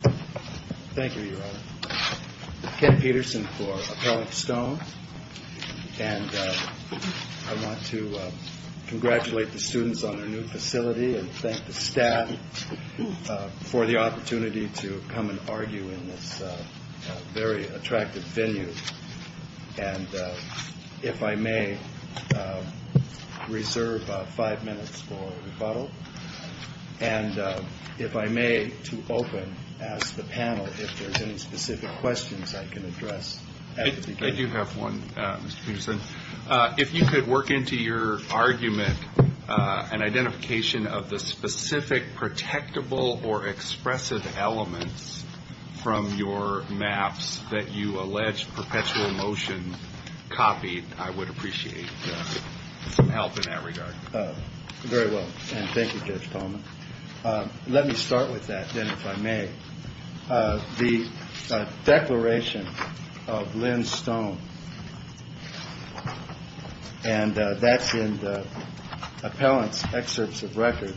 Thank you, Your Honor. Ken Peterson for Appellant Stone. And I want to congratulate the students on their new facility and thank the staff for the opportunity to come and argue in this very attractive venue. And if I may, reserve five minutes for rebuttal. And if I may, to open, ask the panel if there's any specific questions I can address at the beginning. I do have one, Mr. Peterson. If you could work into your argument an identification of the specific protectable or expressive elements from your maps that you allege Perpetual Motion copied, I would appreciate some help in that regard. Very well. And thank you, Judge Tolman. Let me start with that, then, if I may. The declaration of Lynn Stone. And that's in the appellant's excerpts of record.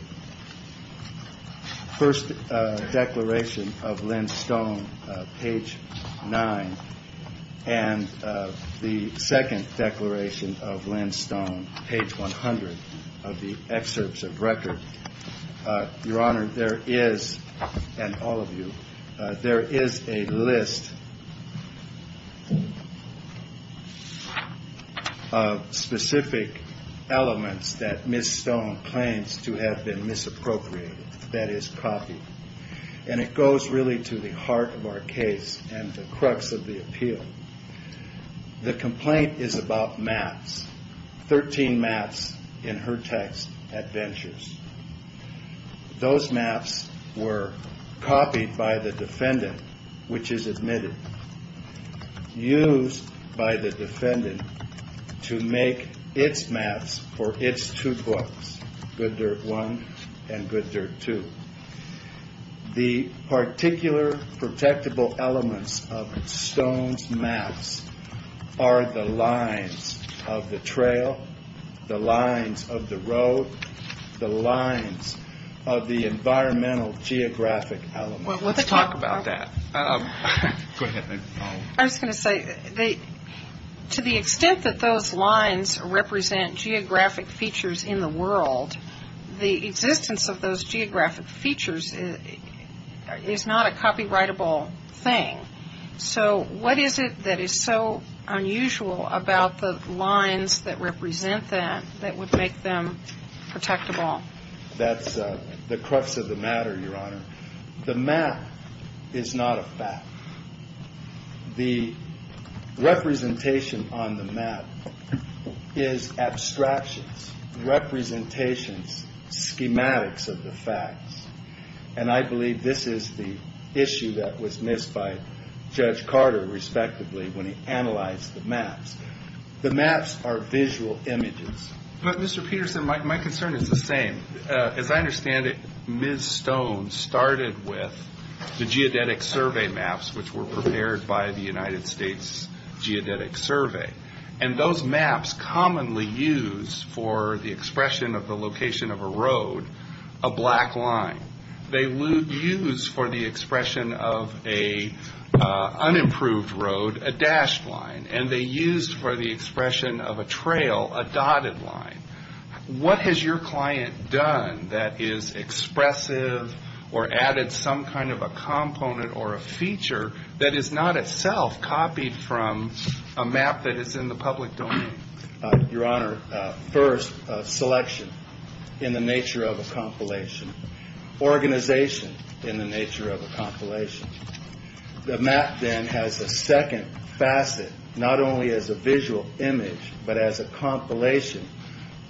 First declaration of Lynn Stone, page 9. And the second declaration of Lynn Stone, page 100 of the excerpts of record. Your Honor, there is, and all of you, there is a list of specific elements that Ms. Stone claims to have been misappropriated, that is copied. And it goes really to the heart of our case and the crux of the appeal. The complaint is about maps, 13 maps in her text, Adventures. Those maps were copied by the defendant, which is admitted, used by the defendant to make its maps for its two books, Good Dirt 1 and Good Dirt 2. The particular protectable elements of Stone's maps are the lines of the trail, the lines of the road, the lines of the environmental geographic elements. Well, let's talk about that. I was going to say, to the extent that those lines represent geographic features in the world, the existence of those geographic features is not a copyrightable thing. So what is it that is so unusual about the lines that represent that, that would make them protectable? That's the crux of the matter, Your Honor. The map is not a fact. The representation on the map is abstractions, representations, schematics of the facts. And I believe this is the issue that was missed by Judge Carter, respectively, when he analyzed the maps. The maps are visual images. But, Mr. Peterson, my concern is the same. As I understand it, Ms. Stone started with the geodetic survey maps, which were prepared by the United States Geodetic Survey. And those maps commonly used for the expression of the location of a road, a black line. They were used for the expression of an unimproved road, a dashed line. And they used for the expression of a trail, a dotted line. What has your client done that is expressive or added some kind of a component or a feature that is not itself copied from a map that is in the public domain? Your Honor, first, selection in the nature of a compilation. Organization in the nature of a compilation. The map then has a second facet, not only as a visual image, but as a compilation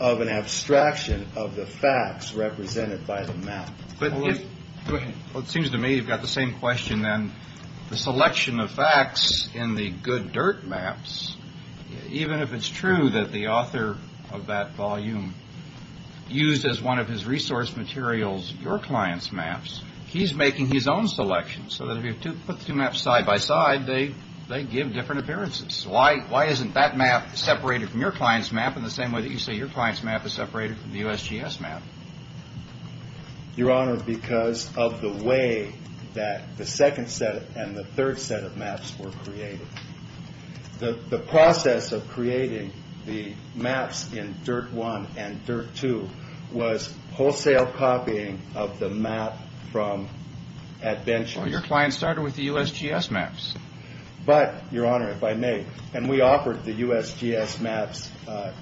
of an abstraction of the facts represented by the map. Well, it seems to me you've got the same question then. The selection of facts in the good dirt maps. Even if it's true that the author of that volume used as one of his resource materials, your client's maps, he's making his own selection so that if you put two maps side by side, they they give different appearances. Why? Why isn't that map separated from your client's map in the same way that you say your client's map is separated from the USGS map? Your Honor, because of the way that the second set and the third set of maps were created. The process of creating the maps in Dirt 1 and Dirt 2 was wholesale copying of the map from adventure. Your client started with the USGS maps. But, Your Honor, if I may, and we offered the USGS maps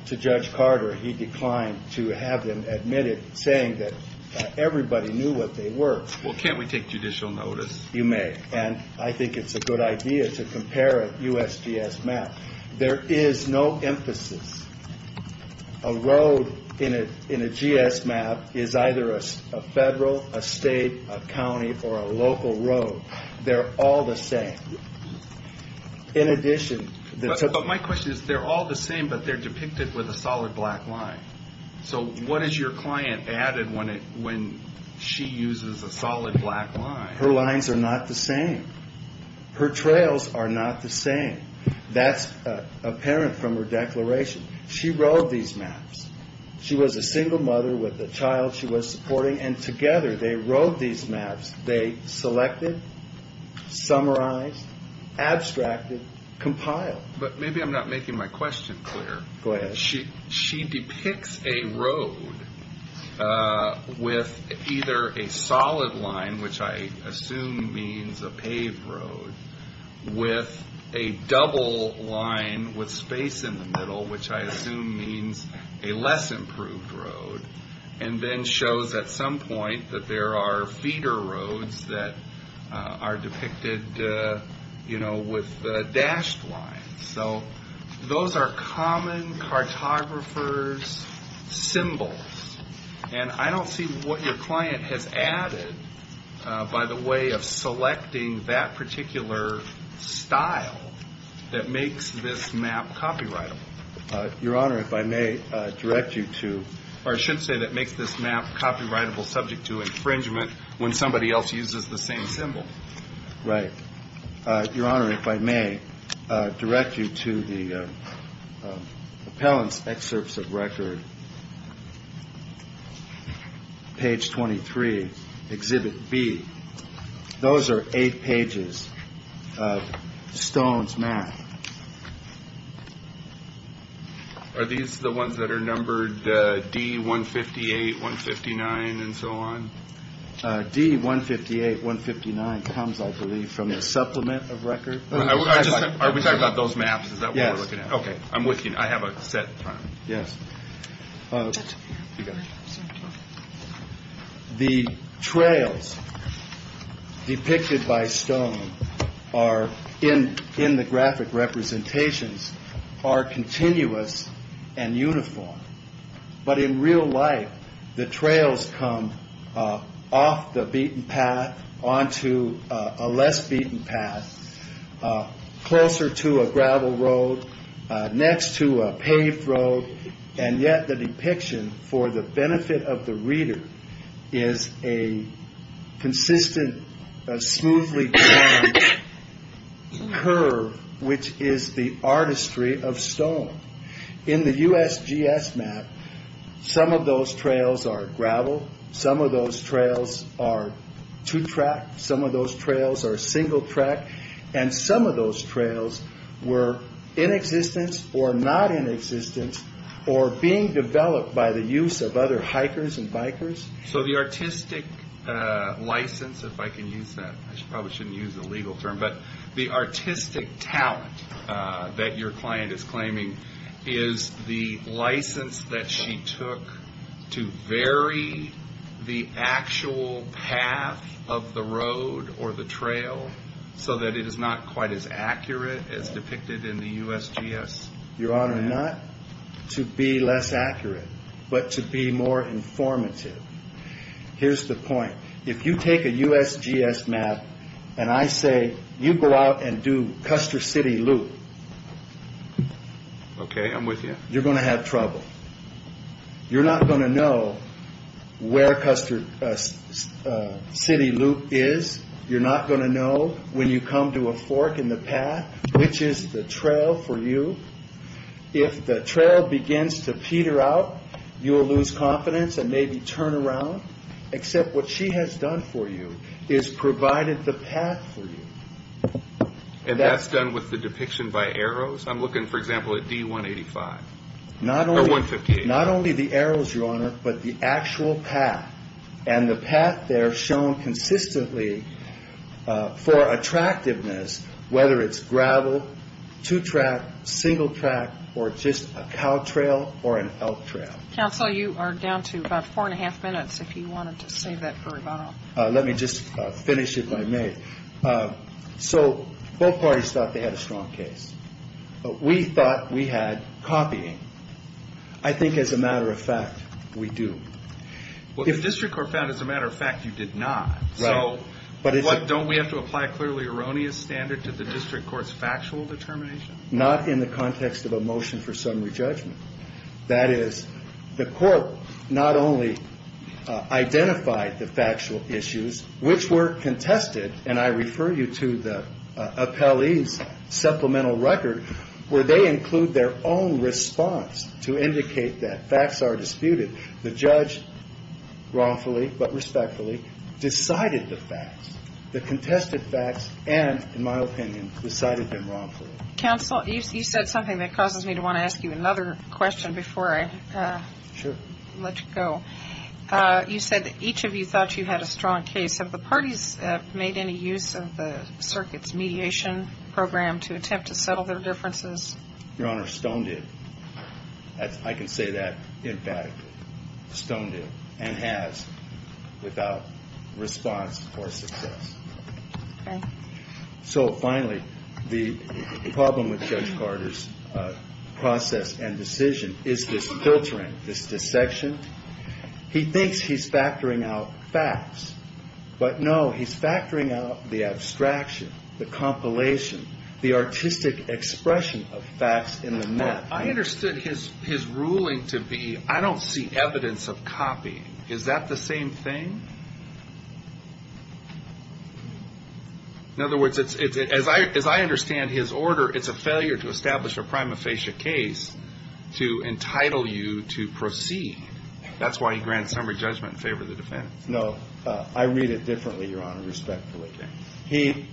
to Judge Carter. He declined to have them admitted, saying that everybody knew what they were. Well, can't we take judicial notice? You may. And I think it's a good idea to compare a USGS map. There is no emphasis. A road in a GS map is either a federal, a state, a county, or a local road. They're all the same. In addition. But my question is, they're all the same, but they're depicted with a solid black line. So what is your client added when she uses a solid black line? Her lines are not the same. Her trails are not the same. That's apparent from her declaration. She rode these maps. She was a single mother with a child she was supporting, and together they rode these maps. They selected, summarized, abstracted, compiled. But maybe I'm not making my question clear. Go ahead. She depicts a road with either a solid line, which I assume means a paved road, with a double line with space in the middle, which I assume means a less improved road. And then shows at some point that there are feeder roads that are depicted, you know, with dashed lines. So those are common cartographers' symbols. And I don't see what your client has added by the way of selecting that particular style that makes this map copyrightable. Your Honor, if I may direct you to. Or I should say that makes this map copyrightable subject to infringement when somebody else uses the same symbol. Right. Your Honor, if I may direct you to the appellant's excerpts of record. Page 23, Exhibit B. Those are eight pages of Stone's map. Are these the ones that are numbered D-158, 159, and so on? D-158, 159 comes, I believe, from the supplement of record. Are we talking about those maps? Is that what we're looking at? Yes. Okay. I'm with you. I have a set time. Yes. The trails depicted by Stone are in the graphic representations are continuous and uniform. But in real life, the trails come off the beaten path onto a less beaten path, closer to a gravel road, next to a paved road. And yet the depiction, for the benefit of the reader, is a consistent, smoothly curved curve, which is the artistry of Stone. In the USGS map, some of those trails are gravel. Some of those trails are two-track. Some of those trails are single track. And some of those trails were in existence or not in existence or being developed by the use of other hikers and bikers. So the artistic license, if I can use that, I probably shouldn't use the legal term, but the artistic talent that your client is claiming, is the license that she took to vary the actual path of the road or the trail so that it is not quite as accurate as depicted in the USGS? Your Honor, not to be less accurate, but to be more informative. Here's the point. If you take a USGS map and I say, you go out and do Custer City Loop. Okay, I'm with you. You're going to have trouble. You're not going to know where Custer City Loop is. You're not going to know when you come to a fork in the path which is the trail for you. If the trail begins to peter out, you will lose confidence and maybe turn around. Except what she has done for you is provided the path for you. And that's done with the depiction by arrows? I'm looking, for example, at D-185. Not only the arrows, Your Honor, but the actual path. And the path there shown consistently for attractiveness, whether it's gravel, two track, single track, or just a cow trail or an elk trail. Counsel, you are down to about four and a half minutes if you wanted to save that for rebuttal. Let me just finish if I may. So both parties thought they had a strong case. We thought we had copying. I think as a matter of fact, we do. Well, the district court found as a matter of fact you did not. Right. So don't we have to apply a clearly erroneous standard to the district court's factual determination? Not in the context of a motion for summary judgment. That is, the court not only identified the factual issues which were contested, and I refer you to the appellee's supplemental record, where they include their own response to indicate that facts are disputed. The judge wrongfully but respectfully decided the facts, the contested facts, and, in my opinion, decided them wrongfully. Counsel, you said something that causes me to want to ask you another question before I let you go. Sure. You said that each of you thought you had a strong case. Have the parties made any use of the circuit's mediation program to attempt to settle their differences? Your Honor, Stone did. I can say that emphatically. Stone did, and has, without response or success. Okay. So finally, the problem with Judge Carter's process and decision is this filtering, this dissection. He thinks he's factoring out facts, but no, he's factoring out the abstraction, the compilation, the artistic expression of facts in the method. I understood his ruling to be, I don't see evidence of copying. Is that the same thing? In other words, as I understand his order, it's a failure to establish a prima facie case to entitle you to proceed. That's why he grants summary judgment in favor of the defense. No, I read it differently, Your Honor, respectfully. He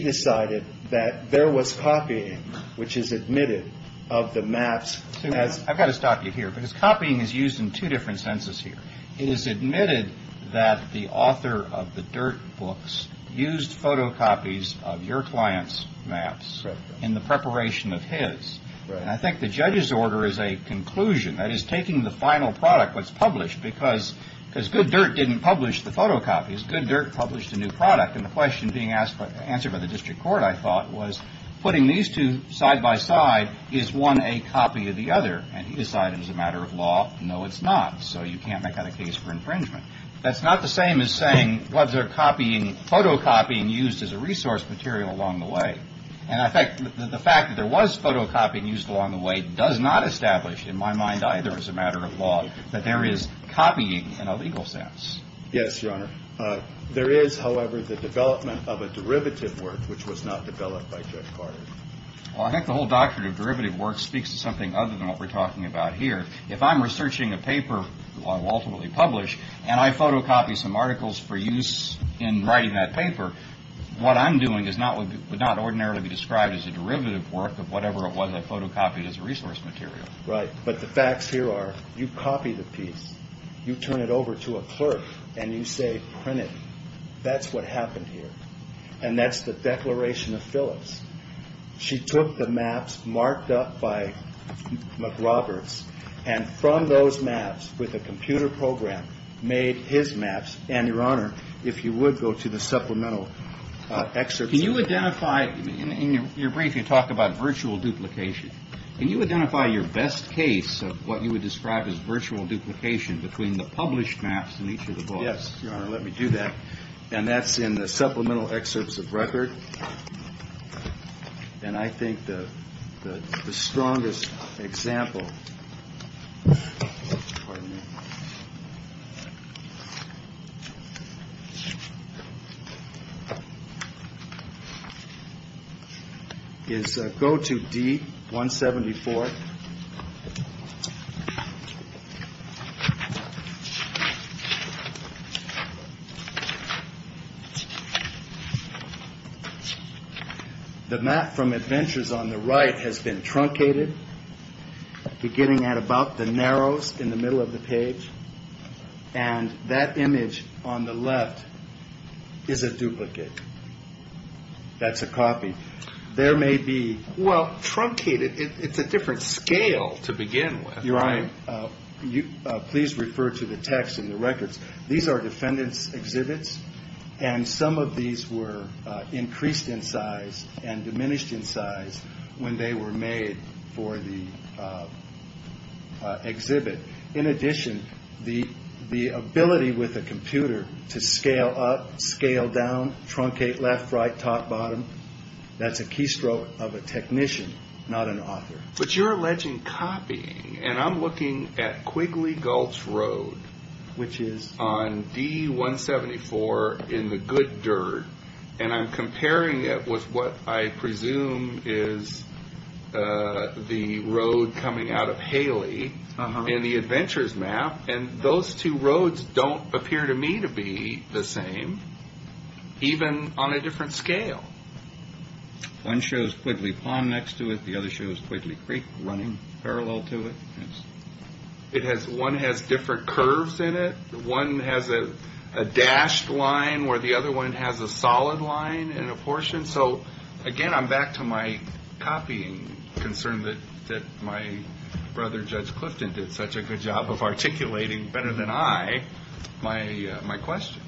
decided that there was copying, which is admitted of the maps. I've got to stop you here, because copying is used in two different senses here. It is admitted that the author of the Dirt books used photocopies of your client's maps in the preparation of his. And I think the judge's order is a conclusion. That is, taking the final product that's published, because Good Dirt didn't publish the photocopies. Good Dirt published a new product. And the question being answered by the district court, I thought, was putting these two side by side, is one a copy of the other? And he decided it was a matter of law. No, it's not. So you can't make that a case for infringement. That's not the same as saying, well, they're copying, photocopying used as a resource material along the way. And, in fact, the fact that there was photocopying used along the way does not establish, in my mind either as a matter of law, that there is copying in a legal sense. Yes, Your Honor. There is, however, the development of a derivative work, which was not developed by Judge Carter. Well, I think the whole doctrine of derivative work speaks to something other than what we're talking about here. If I'm researching a paper, which I will ultimately publish, and I photocopy some articles for use in writing that paper, what I'm doing would not ordinarily be described as a derivative work of whatever it was I photocopied as a resource material. Right. But the facts here are, you copy the piece, you turn it over to a clerk, and you say, print it. That's what happened here. And that's the declaration of Phillips. She took the maps marked up by McRoberts, and from those maps, with a computer program, made his maps. And, Your Honor, if you would go to the supplemental excerpts. Can you identify, in your briefing, you talk about virtual duplication. Can you identify your best case of what you would describe as virtual duplication between the published maps and each of the books? Yes, Your Honor. Let me do that. And that's in the supplemental excerpts of record. And I think the strongest example. Pardon me. Go to D 174. The map from Adventures on the right has been truncated, beginning at about the narrowest in the middle of the page. And that image on the left is a duplicate. That's a copy. Well, truncated, it's a different scale to begin with. Your Honor, please refer to the text in the records. These are defendant's exhibits, and some of these were increased in size and diminished in size when they were made for the exhibit. In addition, the ability with a computer to scale up, scale down, truncate left, right, top, bottom, that's a keystroke of a technician, not an author. But you're alleging copying. And I'm looking at Quigley Gulch Road. Which is? On D 174 in the good dirt. And I'm comparing it with what I presume is the road coming out of Haley in the Adventures map. And those two roads don't appear to me to be the same, even on a different scale. One shows Quigley Pond next to it. The other shows Quigley Creek running parallel to it. One has different curves in it. One has a dashed line where the other one has a solid line and a portion. So, again, I'm back to my copying concern that my brother Judge Clifton did such a good job of articulating better than I my question.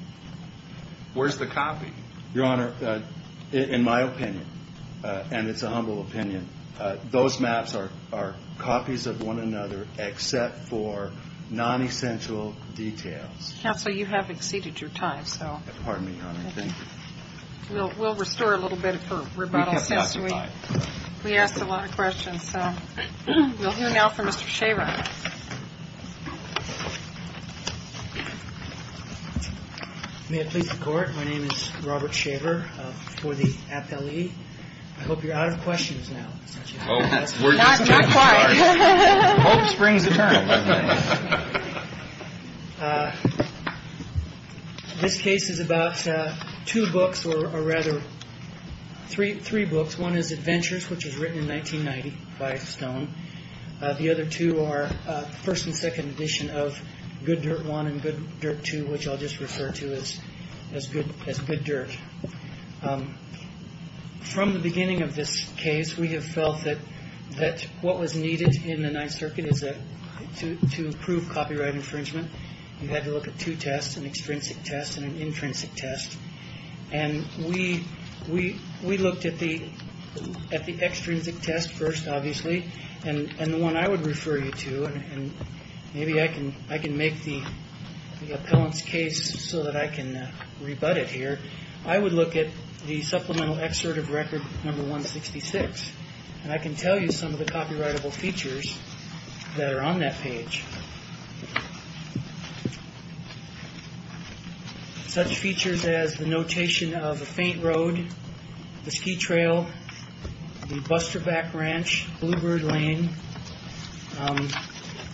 Where's the copy? Your Honor, in my opinion, and it's a humble opinion, those maps are copies of one another except for non-essential details. Counsel, you have exceeded your time. So pardon me, Your Honor. Thank you. We'll restore a little bit for rebuttal. We asked a lot of questions. So we'll hear now from Mr. Shaver. May it please the Court. My name is Robert Shaver for the appellee. I hope you're out of questions now. Not quite. Hope springs a turn. This case is about two books or rather three, three books. One is Adventures, which was written in 1990 by Stone. The other two are first and second edition of Good Dirt One and Good Dirt Two, which I'll just refer to as as good as good dirt. From the beginning of this case, we have felt that that what was needed in the Ninth Circuit is that to prove copyright infringement, you had to look at two tests, an extrinsic test and an intrinsic test. And we looked at the extrinsic test first, obviously, and the one I would refer you to. And maybe I can make the appellant's case so that I can rebut it here. I would look at the supplemental excerpt of record number 166. And I can tell you some of the copyrightable features that are on that page. Such features as the notation of a faint road, the ski trail, the Buster Back Ranch, Bluebird Lane.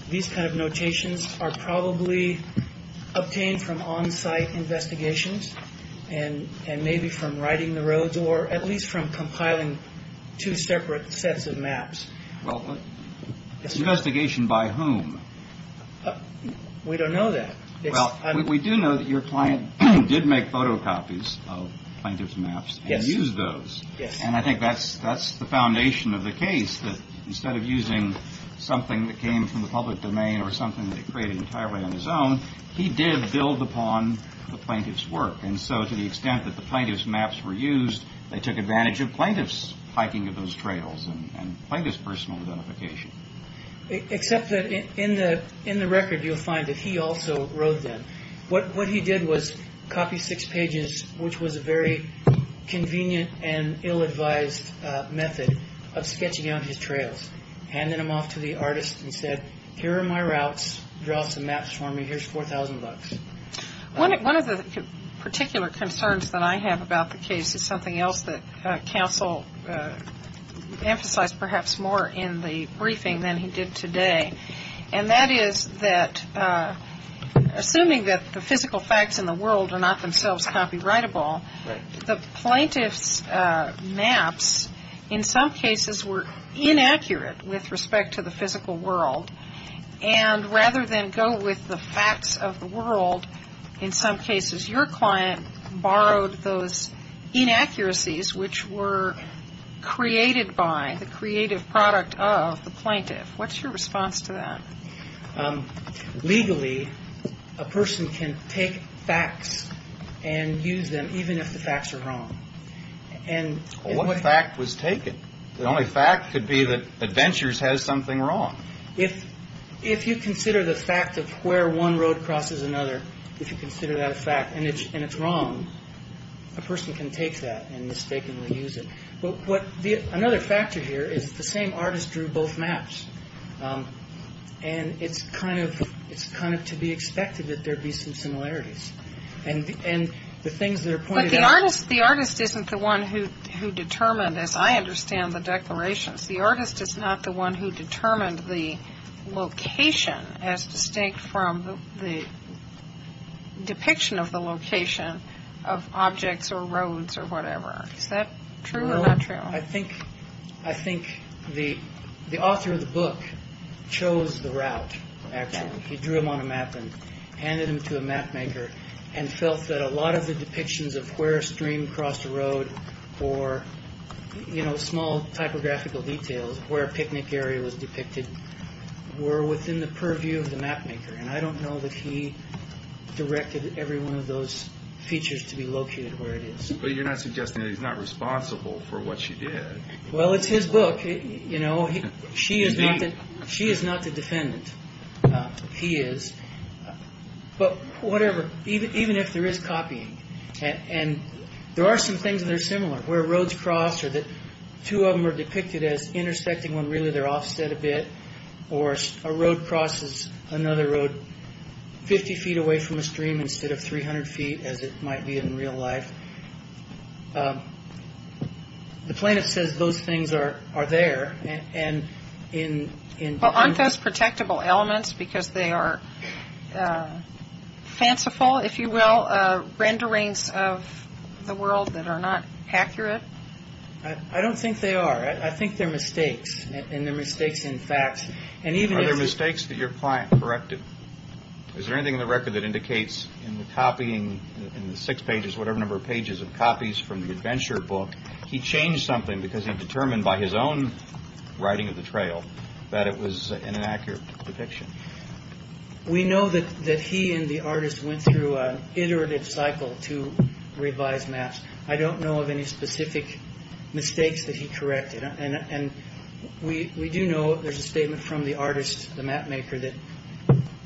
These kind of notations are probably obtained from on site investigations and maybe from riding the roads or at least from compiling two separate sets of maps. Investigation by whom? We don't know that. We do know that your client did make photocopies of plaintiff's maps and used those. Yes. And I think that's the foundation of the case, that instead of using something that came from the public domain or something that he created entirely on his own, he did build upon the plaintiff's work. And so to the extent that the plaintiff's maps were used, they took advantage of plaintiff's hiking of those trails and plaintiff's personal identification. Except that in the record you'll find that he also wrote them. What he did was copy six pages, which was a very convenient and ill-advised method of sketching out his trails, handing them off to the artist and said, here are my routes, draw some maps for me, here's 4,000 bucks. One of the particular concerns that I have about the case is something else that counsel emphasized perhaps more in the briefing than he did today. And that is that assuming that the physical facts in the world are not themselves copyrightable, the plaintiff's maps in some cases were inaccurate with respect to the physical world. And rather than go with the facts of the world, in some cases your client borrowed those inaccuracies, which were created by the creative product of the plaintiff. What's your response to that? Legally, a person can take facts and use them even if the facts are wrong. Well, what fact was taken? The only fact could be that Adventures has something wrong. If you consider the fact of where one road crosses another, if you consider that a fact and it's wrong, a person can take that and mistakenly use it. But another factor here is the same artist drew both maps. And it's kind of to be expected that there'd be some similarities. But the artist isn't the one who determined, as I understand the declarations, the artist is not the one who determined the location as distinct from the depiction of the location of objects or roads or whatever. Is that true or not true? I think the author of the book chose the route, actually. He drew him on a map and handed him to a mapmaker and felt that a lot of the depictions of where a stream crossed a road or small typographical details where a picnic area was depicted were within the purview of the mapmaker. And I don't know that he directed every one of those features to be located where it is. But you're not suggesting that he's not responsible for what she did. Well, it's his book. You know, she is. She is not the defendant. He is. But whatever. Even even if there is copying. And there are some things that are similar where roads cross or that two of them are depicted as intersecting when really they're offset a bit. Or a road crosses another road 50 feet away from a stream instead of 300 feet, as it might be in real life. The plaintiff says those things are there. And in aren't those protectable elements because they are fanciful, if you will. Renderings of the world that are not accurate. I don't think they are. I think they're mistakes. And they're mistakes in fact. And even their mistakes that your client corrected. Is there anything in the record that indicates in the copying in the six pages, whatever number of pages of copies from the adventure book? He changed something because he determined by his own writing of the trail that it was an inaccurate depiction. We know that that he and the artist went through an iterative cycle to revise maps. I don't know of any specific mistakes that he corrected. We do know there's a statement from the artist, the map maker, that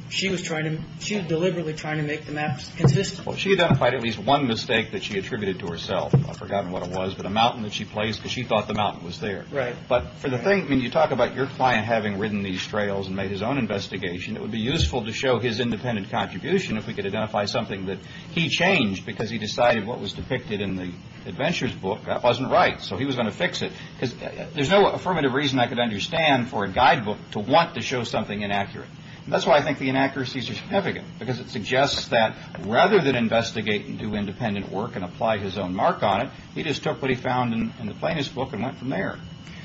she was deliberately trying to make the maps consistent. She identified at least one mistake that she attributed to herself. I've forgotten what it was, but a mountain that she placed because she thought the mountain was there. Right. But you talk about your client having ridden these trails and made his own investigation. It would be useful to show his independent contribution if we could identify something that he changed because he decided what was depicted in the adventure's book. That wasn't right. So he was going to fix it because there's no affirmative reason I could understand for a guidebook to want to show something inaccurate. That's why I think the inaccuracies are significant, because it suggests that rather than investigate and do independent work and apply his own mark on it. He just took what he found in the plaintiff's book and went from there.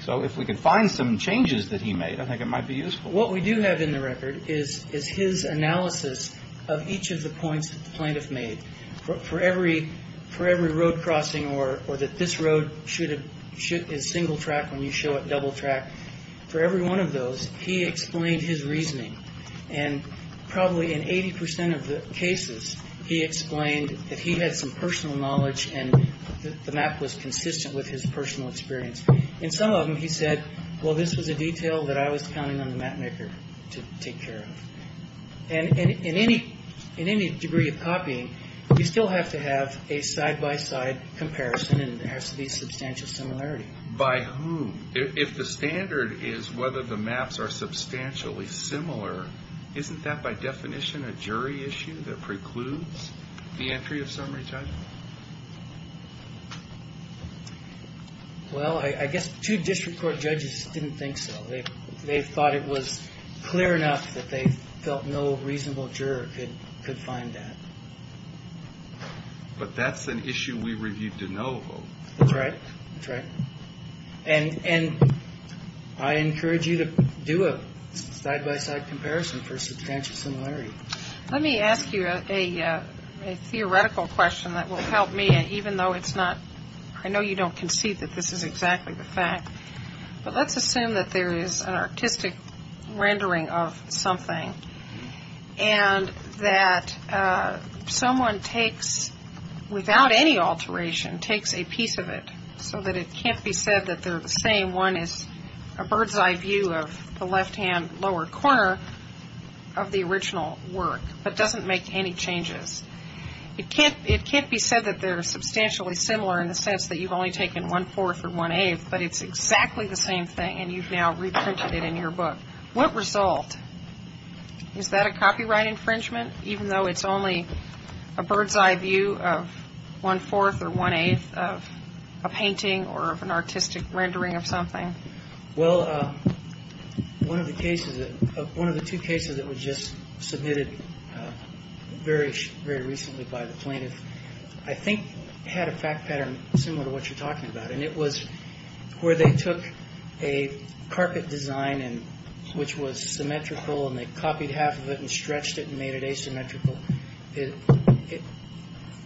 So if we could find some changes that he made, I think it might be useful. What we do have in the record is his analysis of each of the points that the plaintiff made. For every road crossing or that this road is single track when you show it double track, for every one of those, he explained his reasoning. And probably in 80 percent of the cases, he explained that he had some personal knowledge and the map was consistent with his personal experience. In some of them he said, well, this was a detail that I was counting on the map maker to take care of. And in any degree of copying, you still have to have a side by side comparison and there has to be substantial similarity. By whom? If the standard is whether the maps are substantially similar, isn't that by definition a jury issue that precludes the entry of summary judgment? Well, I guess two district court judges didn't think so. They thought it was clear enough that they felt no reasonable juror could find that. But that's an issue we reviewed de novo. That's right. That's right. And I encourage you to do a side by side comparison for substantial similarity. Let me ask you a theoretical question that will help me, even though it's not, I know you don't concede that this is exactly the fact, but let's assume that there is an artistic rendering of something and that someone takes, without any alteration, takes a piece of it so that it can't be said that they're the same. One is a bird's eye view of the left hand lower corner of the original work, but doesn't make any changes. It can't be said that they're substantially similar in the sense that you've only taken one-fourth or one-eighth, but it's exactly the same thing and you've now reprinted it in your book. What result? Is that a copyright infringement, even though it's only a bird's eye view of one-fourth or one-eighth of a painting or of an artistic rendering of something? Well, one of the cases, one of the two cases that was just submitted very recently by the plaintiff, I think had a fact pattern similar to what you're talking about. And it was where they took a carpet design, which was symmetrical, and they copied half of it and stretched it and made it asymmetrical.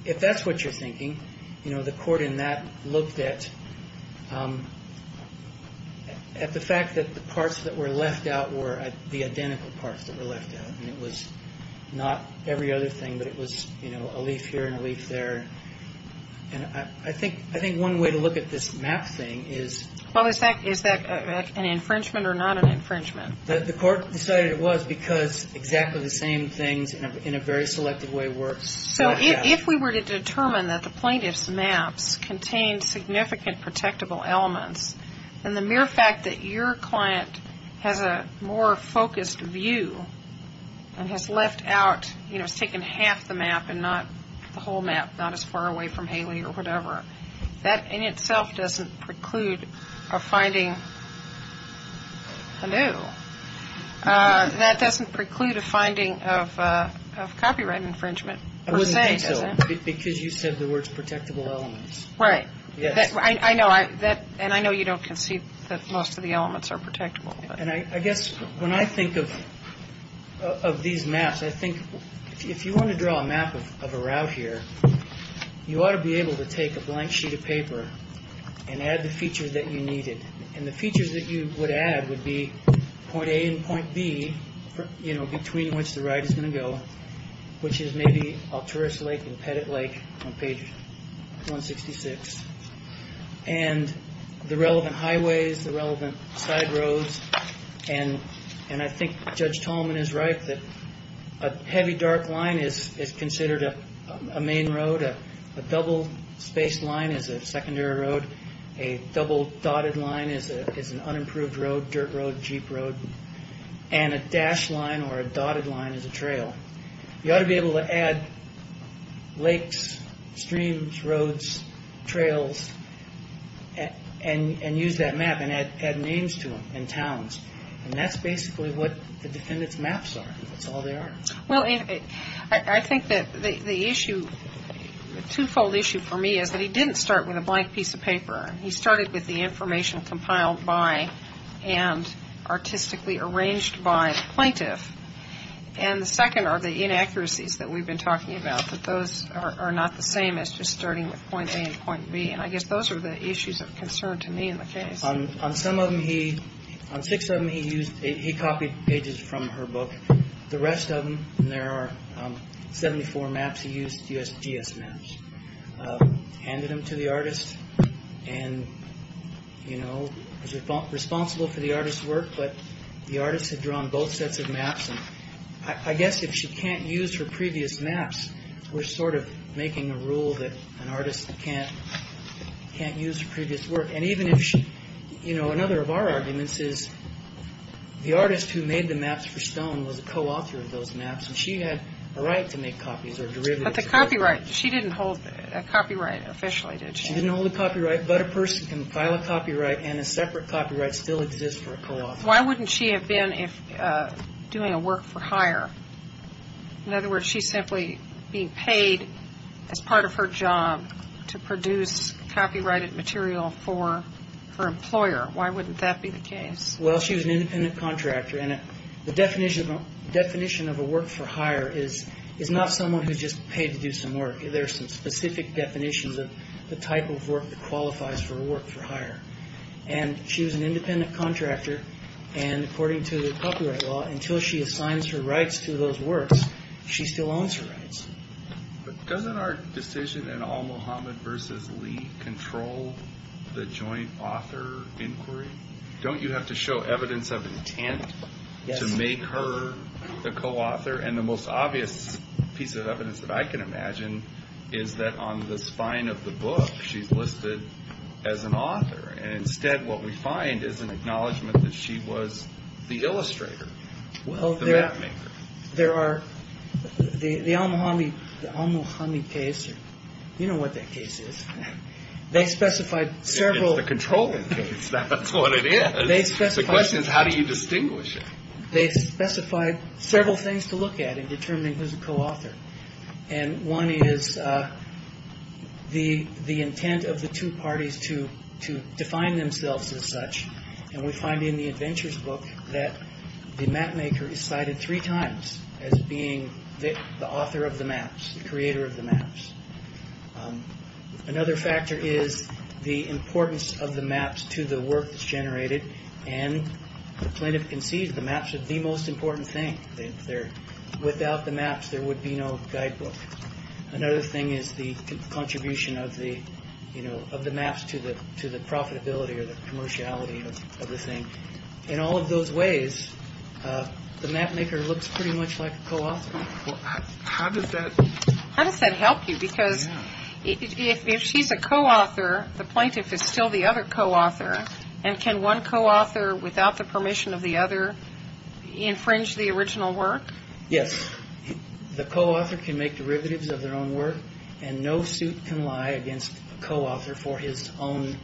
If that's what you're thinking, the court in that looked at the fact that the parts that were left out were the identical parts that were left out, and it was not every other thing, but it was a leaf here and a leaf there. And I think one way to look at this map thing is... Well, is that an infringement or not an infringement? The court decided it was because exactly the same things in a very selective way work. So if we were to determine that the plaintiff's maps contained significant protectable elements, then the mere fact that your client has a more focused view and has left out, has taken half the map and not the whole map, not as far away from Haley or whatever, that in itself doesn't preclude a finding of copyright infringement. I wouldn't think so, because you said the words protectable elements. Right. And I know you don't concede that most of the elements are protectable. And I guess when I think of these maps, I think if you want to draw a map of a route here, you ought to be able to take a blank sheet of paper and add the features that you needed. And the features that you would add would be point A and point B, you know, between which the ride is going to go, which is maybe Alturas Lake and Pettit Lake on page 166. And the relevant highways, the relevant side roads. And I think Judge Tolman is right that a heavy, dark line is considered a main road. A double spaced line is a secondary road. A double dotted line is an unimproved road, dirt road, jeep road. And a dashed line or a dotted line is a trail. You ought to be able to add lakes, streams, roads, trails, and use that map and add names to them and towns. And that's basically what the defendant's maps are. That's all they are. Well, I think that the issue, the twofold issue for me is that he didn't start with a blank piece of paper. He started with the information compiled by and artistically arranged by the plaintiff. And the second are the inaccuracies that we've been talking about, that those are not the same as just starting with point A and point B. And I guess those are the issues of concern to me in the case. On some of them he, on six of them he used, he copied pages from her book. The rest of them, and there are 74 maps he used, USGS maps, handed them to the artist. And, you know, responsible for the artist's work, but the artist had drawn both sets of maps. And I guess if she can't use her previous maps, we're sort of making a rule that an artist can't use her previous work. And even if she, you know, another of our arguments is the artist who made the maps for Stone was a co-author of those maps. And she had a right to make copies or derivatives. But the copyright, she didn't hold a copyright officially, did she? She didn't hold a copyright, but a person can file a copyright and a separate copyright still exists for a co-author. Why wouldn't she have been doing a work for hire? In other words, she's simply being paid as part of her job to produce copyrighted material for her employer. Why wouldn't that be the case? Well, she was an independent contractor. And the definition of a work for hire is not someone who's just paid to do some work. There are some specific definitions of the type of work that qualifies for a work for hire. And she was an independent contractor. And according to the copyright law, until she assigns her rights to those works, she still owns her rights. But doesn't our decision in all Muhammad versus Lee control the joint author inquiry? Don't you have to show evidence of intent to make her the co-author? And the most obvious piece of evidence that I can imagine is that on the spine of the book, she's listed as an author. And instead, what we find is an acknowledgment that she was the illustrator, the map maker. Well, there are the al-Muhammad case. You know what that case is. They specified several. It's the controlling case. That's what it is. The question is, how do you distinguish it? They specified several things to look at in determining who's a co-author. And one is the intent of the two parties to define themselves as such. And we find in the Adventures book that the map maker is cited three times as being the author of the maps, the creator of the maps. Another factor is the importance of the maps to the work that's generated. And the plaintiff concedes the maps are the most important thing. Without the maps, there would be no guidebook. Another thing is the contribution of the maps to the profitability or the commerciality of the thing. In all of those ways, the map maker looks pretty much like a co-author. How does that help you? Because if she's a co-author, the plaintiff is still the other co-author. And can one co-author, without the permission of the other, infringe the original work? Yes. The co-author can make derivatives of their own work. And no suit can lie against a co-author for his own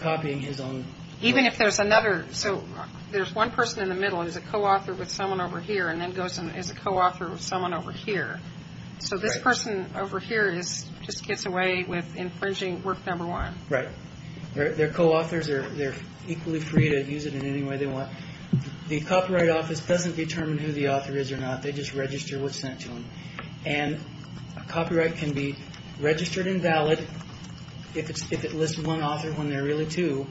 copying his own work. Even if there's another. So there's one person in the middle who's a co-author with someone over here and then goes and is a co-author with someone over here. So this person over here just gets away with infringing work number one. Right. They're co-authors. They're equally free to use it in any way they want. The Copyright Office doesn't determine who the author is or not. They just register what's sent to them. And a copyright can be registered and valid if it lists one author when there are really two.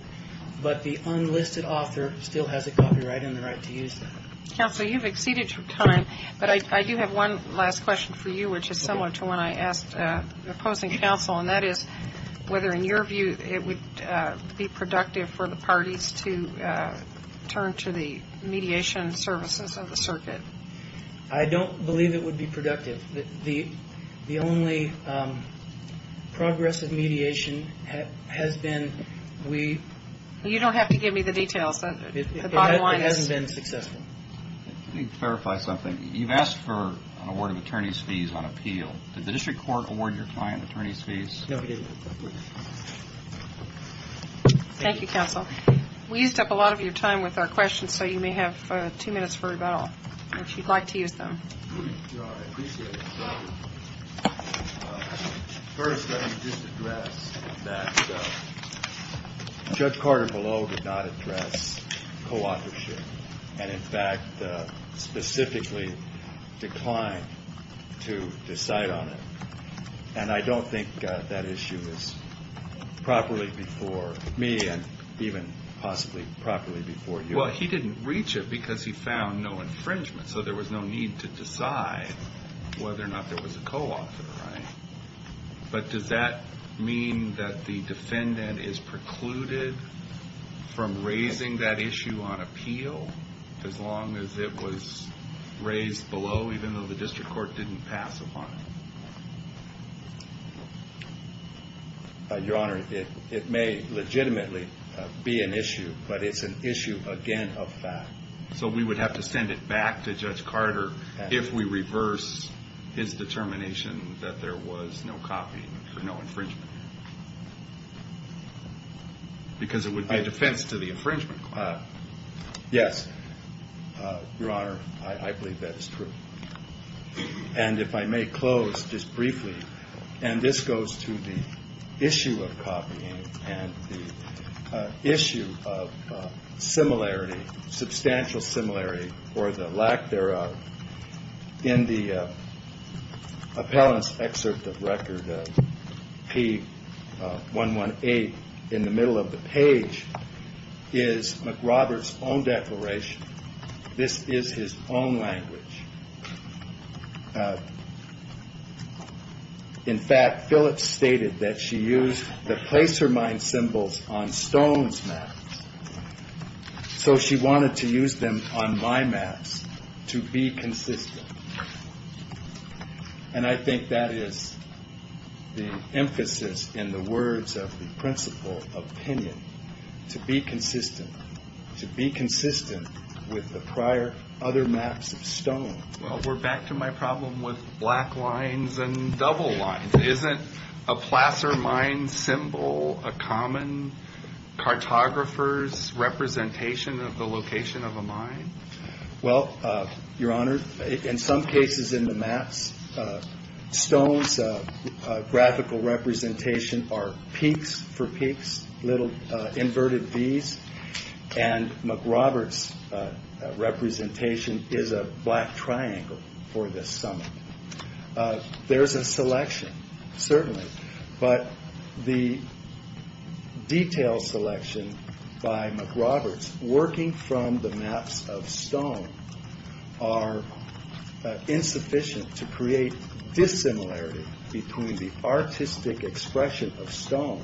But the unlisted author still has a copyright and the right to use that. Counsel, you've exceeded your time. But I do have one last question for you, which is similar to one I asked the opposing counsel, and that is whether, in your view, it would be productive for the parties to turn to the mediation services of the circuit. I don't believe it would be productive. The only progress of mediation has been we. You don't have to give me the details. It hasn't been successful. Let me clarify something. You've asked for an award of attorney's fees on appeal. Did the district court award your client attorney's fees? No, it didn't. Thank you, Counsel. We used up a lot of your time with our questions, so you may have two minutes for rebuttal, if you'd like to use them. I appreciate it. First, let me just address that Judge Carter below did not address co-authorship and, in fact, specifically declined to decide on it. And I don't think that issue is properly before me and even possibly properly before you. Well, he didn't reach it because he found no infringement. So there was no need to decide whether or not there was a co-author, right? But does that mean that the defendant is precluded from raising that issue on appeal as long as it was raised below, even though the district court didn't pass upon it? Your Honor, it may legitimately be an issue, but it's an issue, again, of fact. So we would have to send it back to Judge Carter if we reverse his determination that there was no copying for no infringement? Because it would be a defense to the infringement. Yes, Your Honor, I believe that is true. And if I may close just briefly, and this goes to the issue of copying and the issue of similarity, substantial similarity or the lack thereof. In the appellant's excerpt of Record P118 in the middle of the page is McRoberts' own declaration. This is his own language. In fact, Phillips stated that she used the place her mind symbols on Stone's maps. So she wanted to use them on my maps to be consistent. And I think that is the emphasis in the words of the principle opinion, to be consistent, to be consistent with the prior other maps of Stone. Well, we're back to my problem with black lines and double lines. Isn't a placer mind symbol a common cartographer's representation of the location of a mind? Well, Your Honor, in some cases in the maps, Stone's graphical representation are peaks for peaks, little inverted V's, and McRoberts' representation is a black triangle for this summit. There's a selection, certainly, but the detail selection by McRoberts, working from the maps of Stone are insufficient to create dissimilarity between the artistic expression of Stone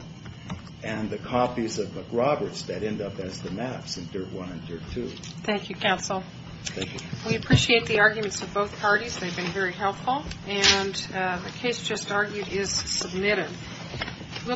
and the copies of McRoberts that end up as the maps in Dirt 1 and Dirt 2. Thank you, counsel. Thank you. We appreciate the arguments of both parties. They've been very helpful. And the case just argued is submitted.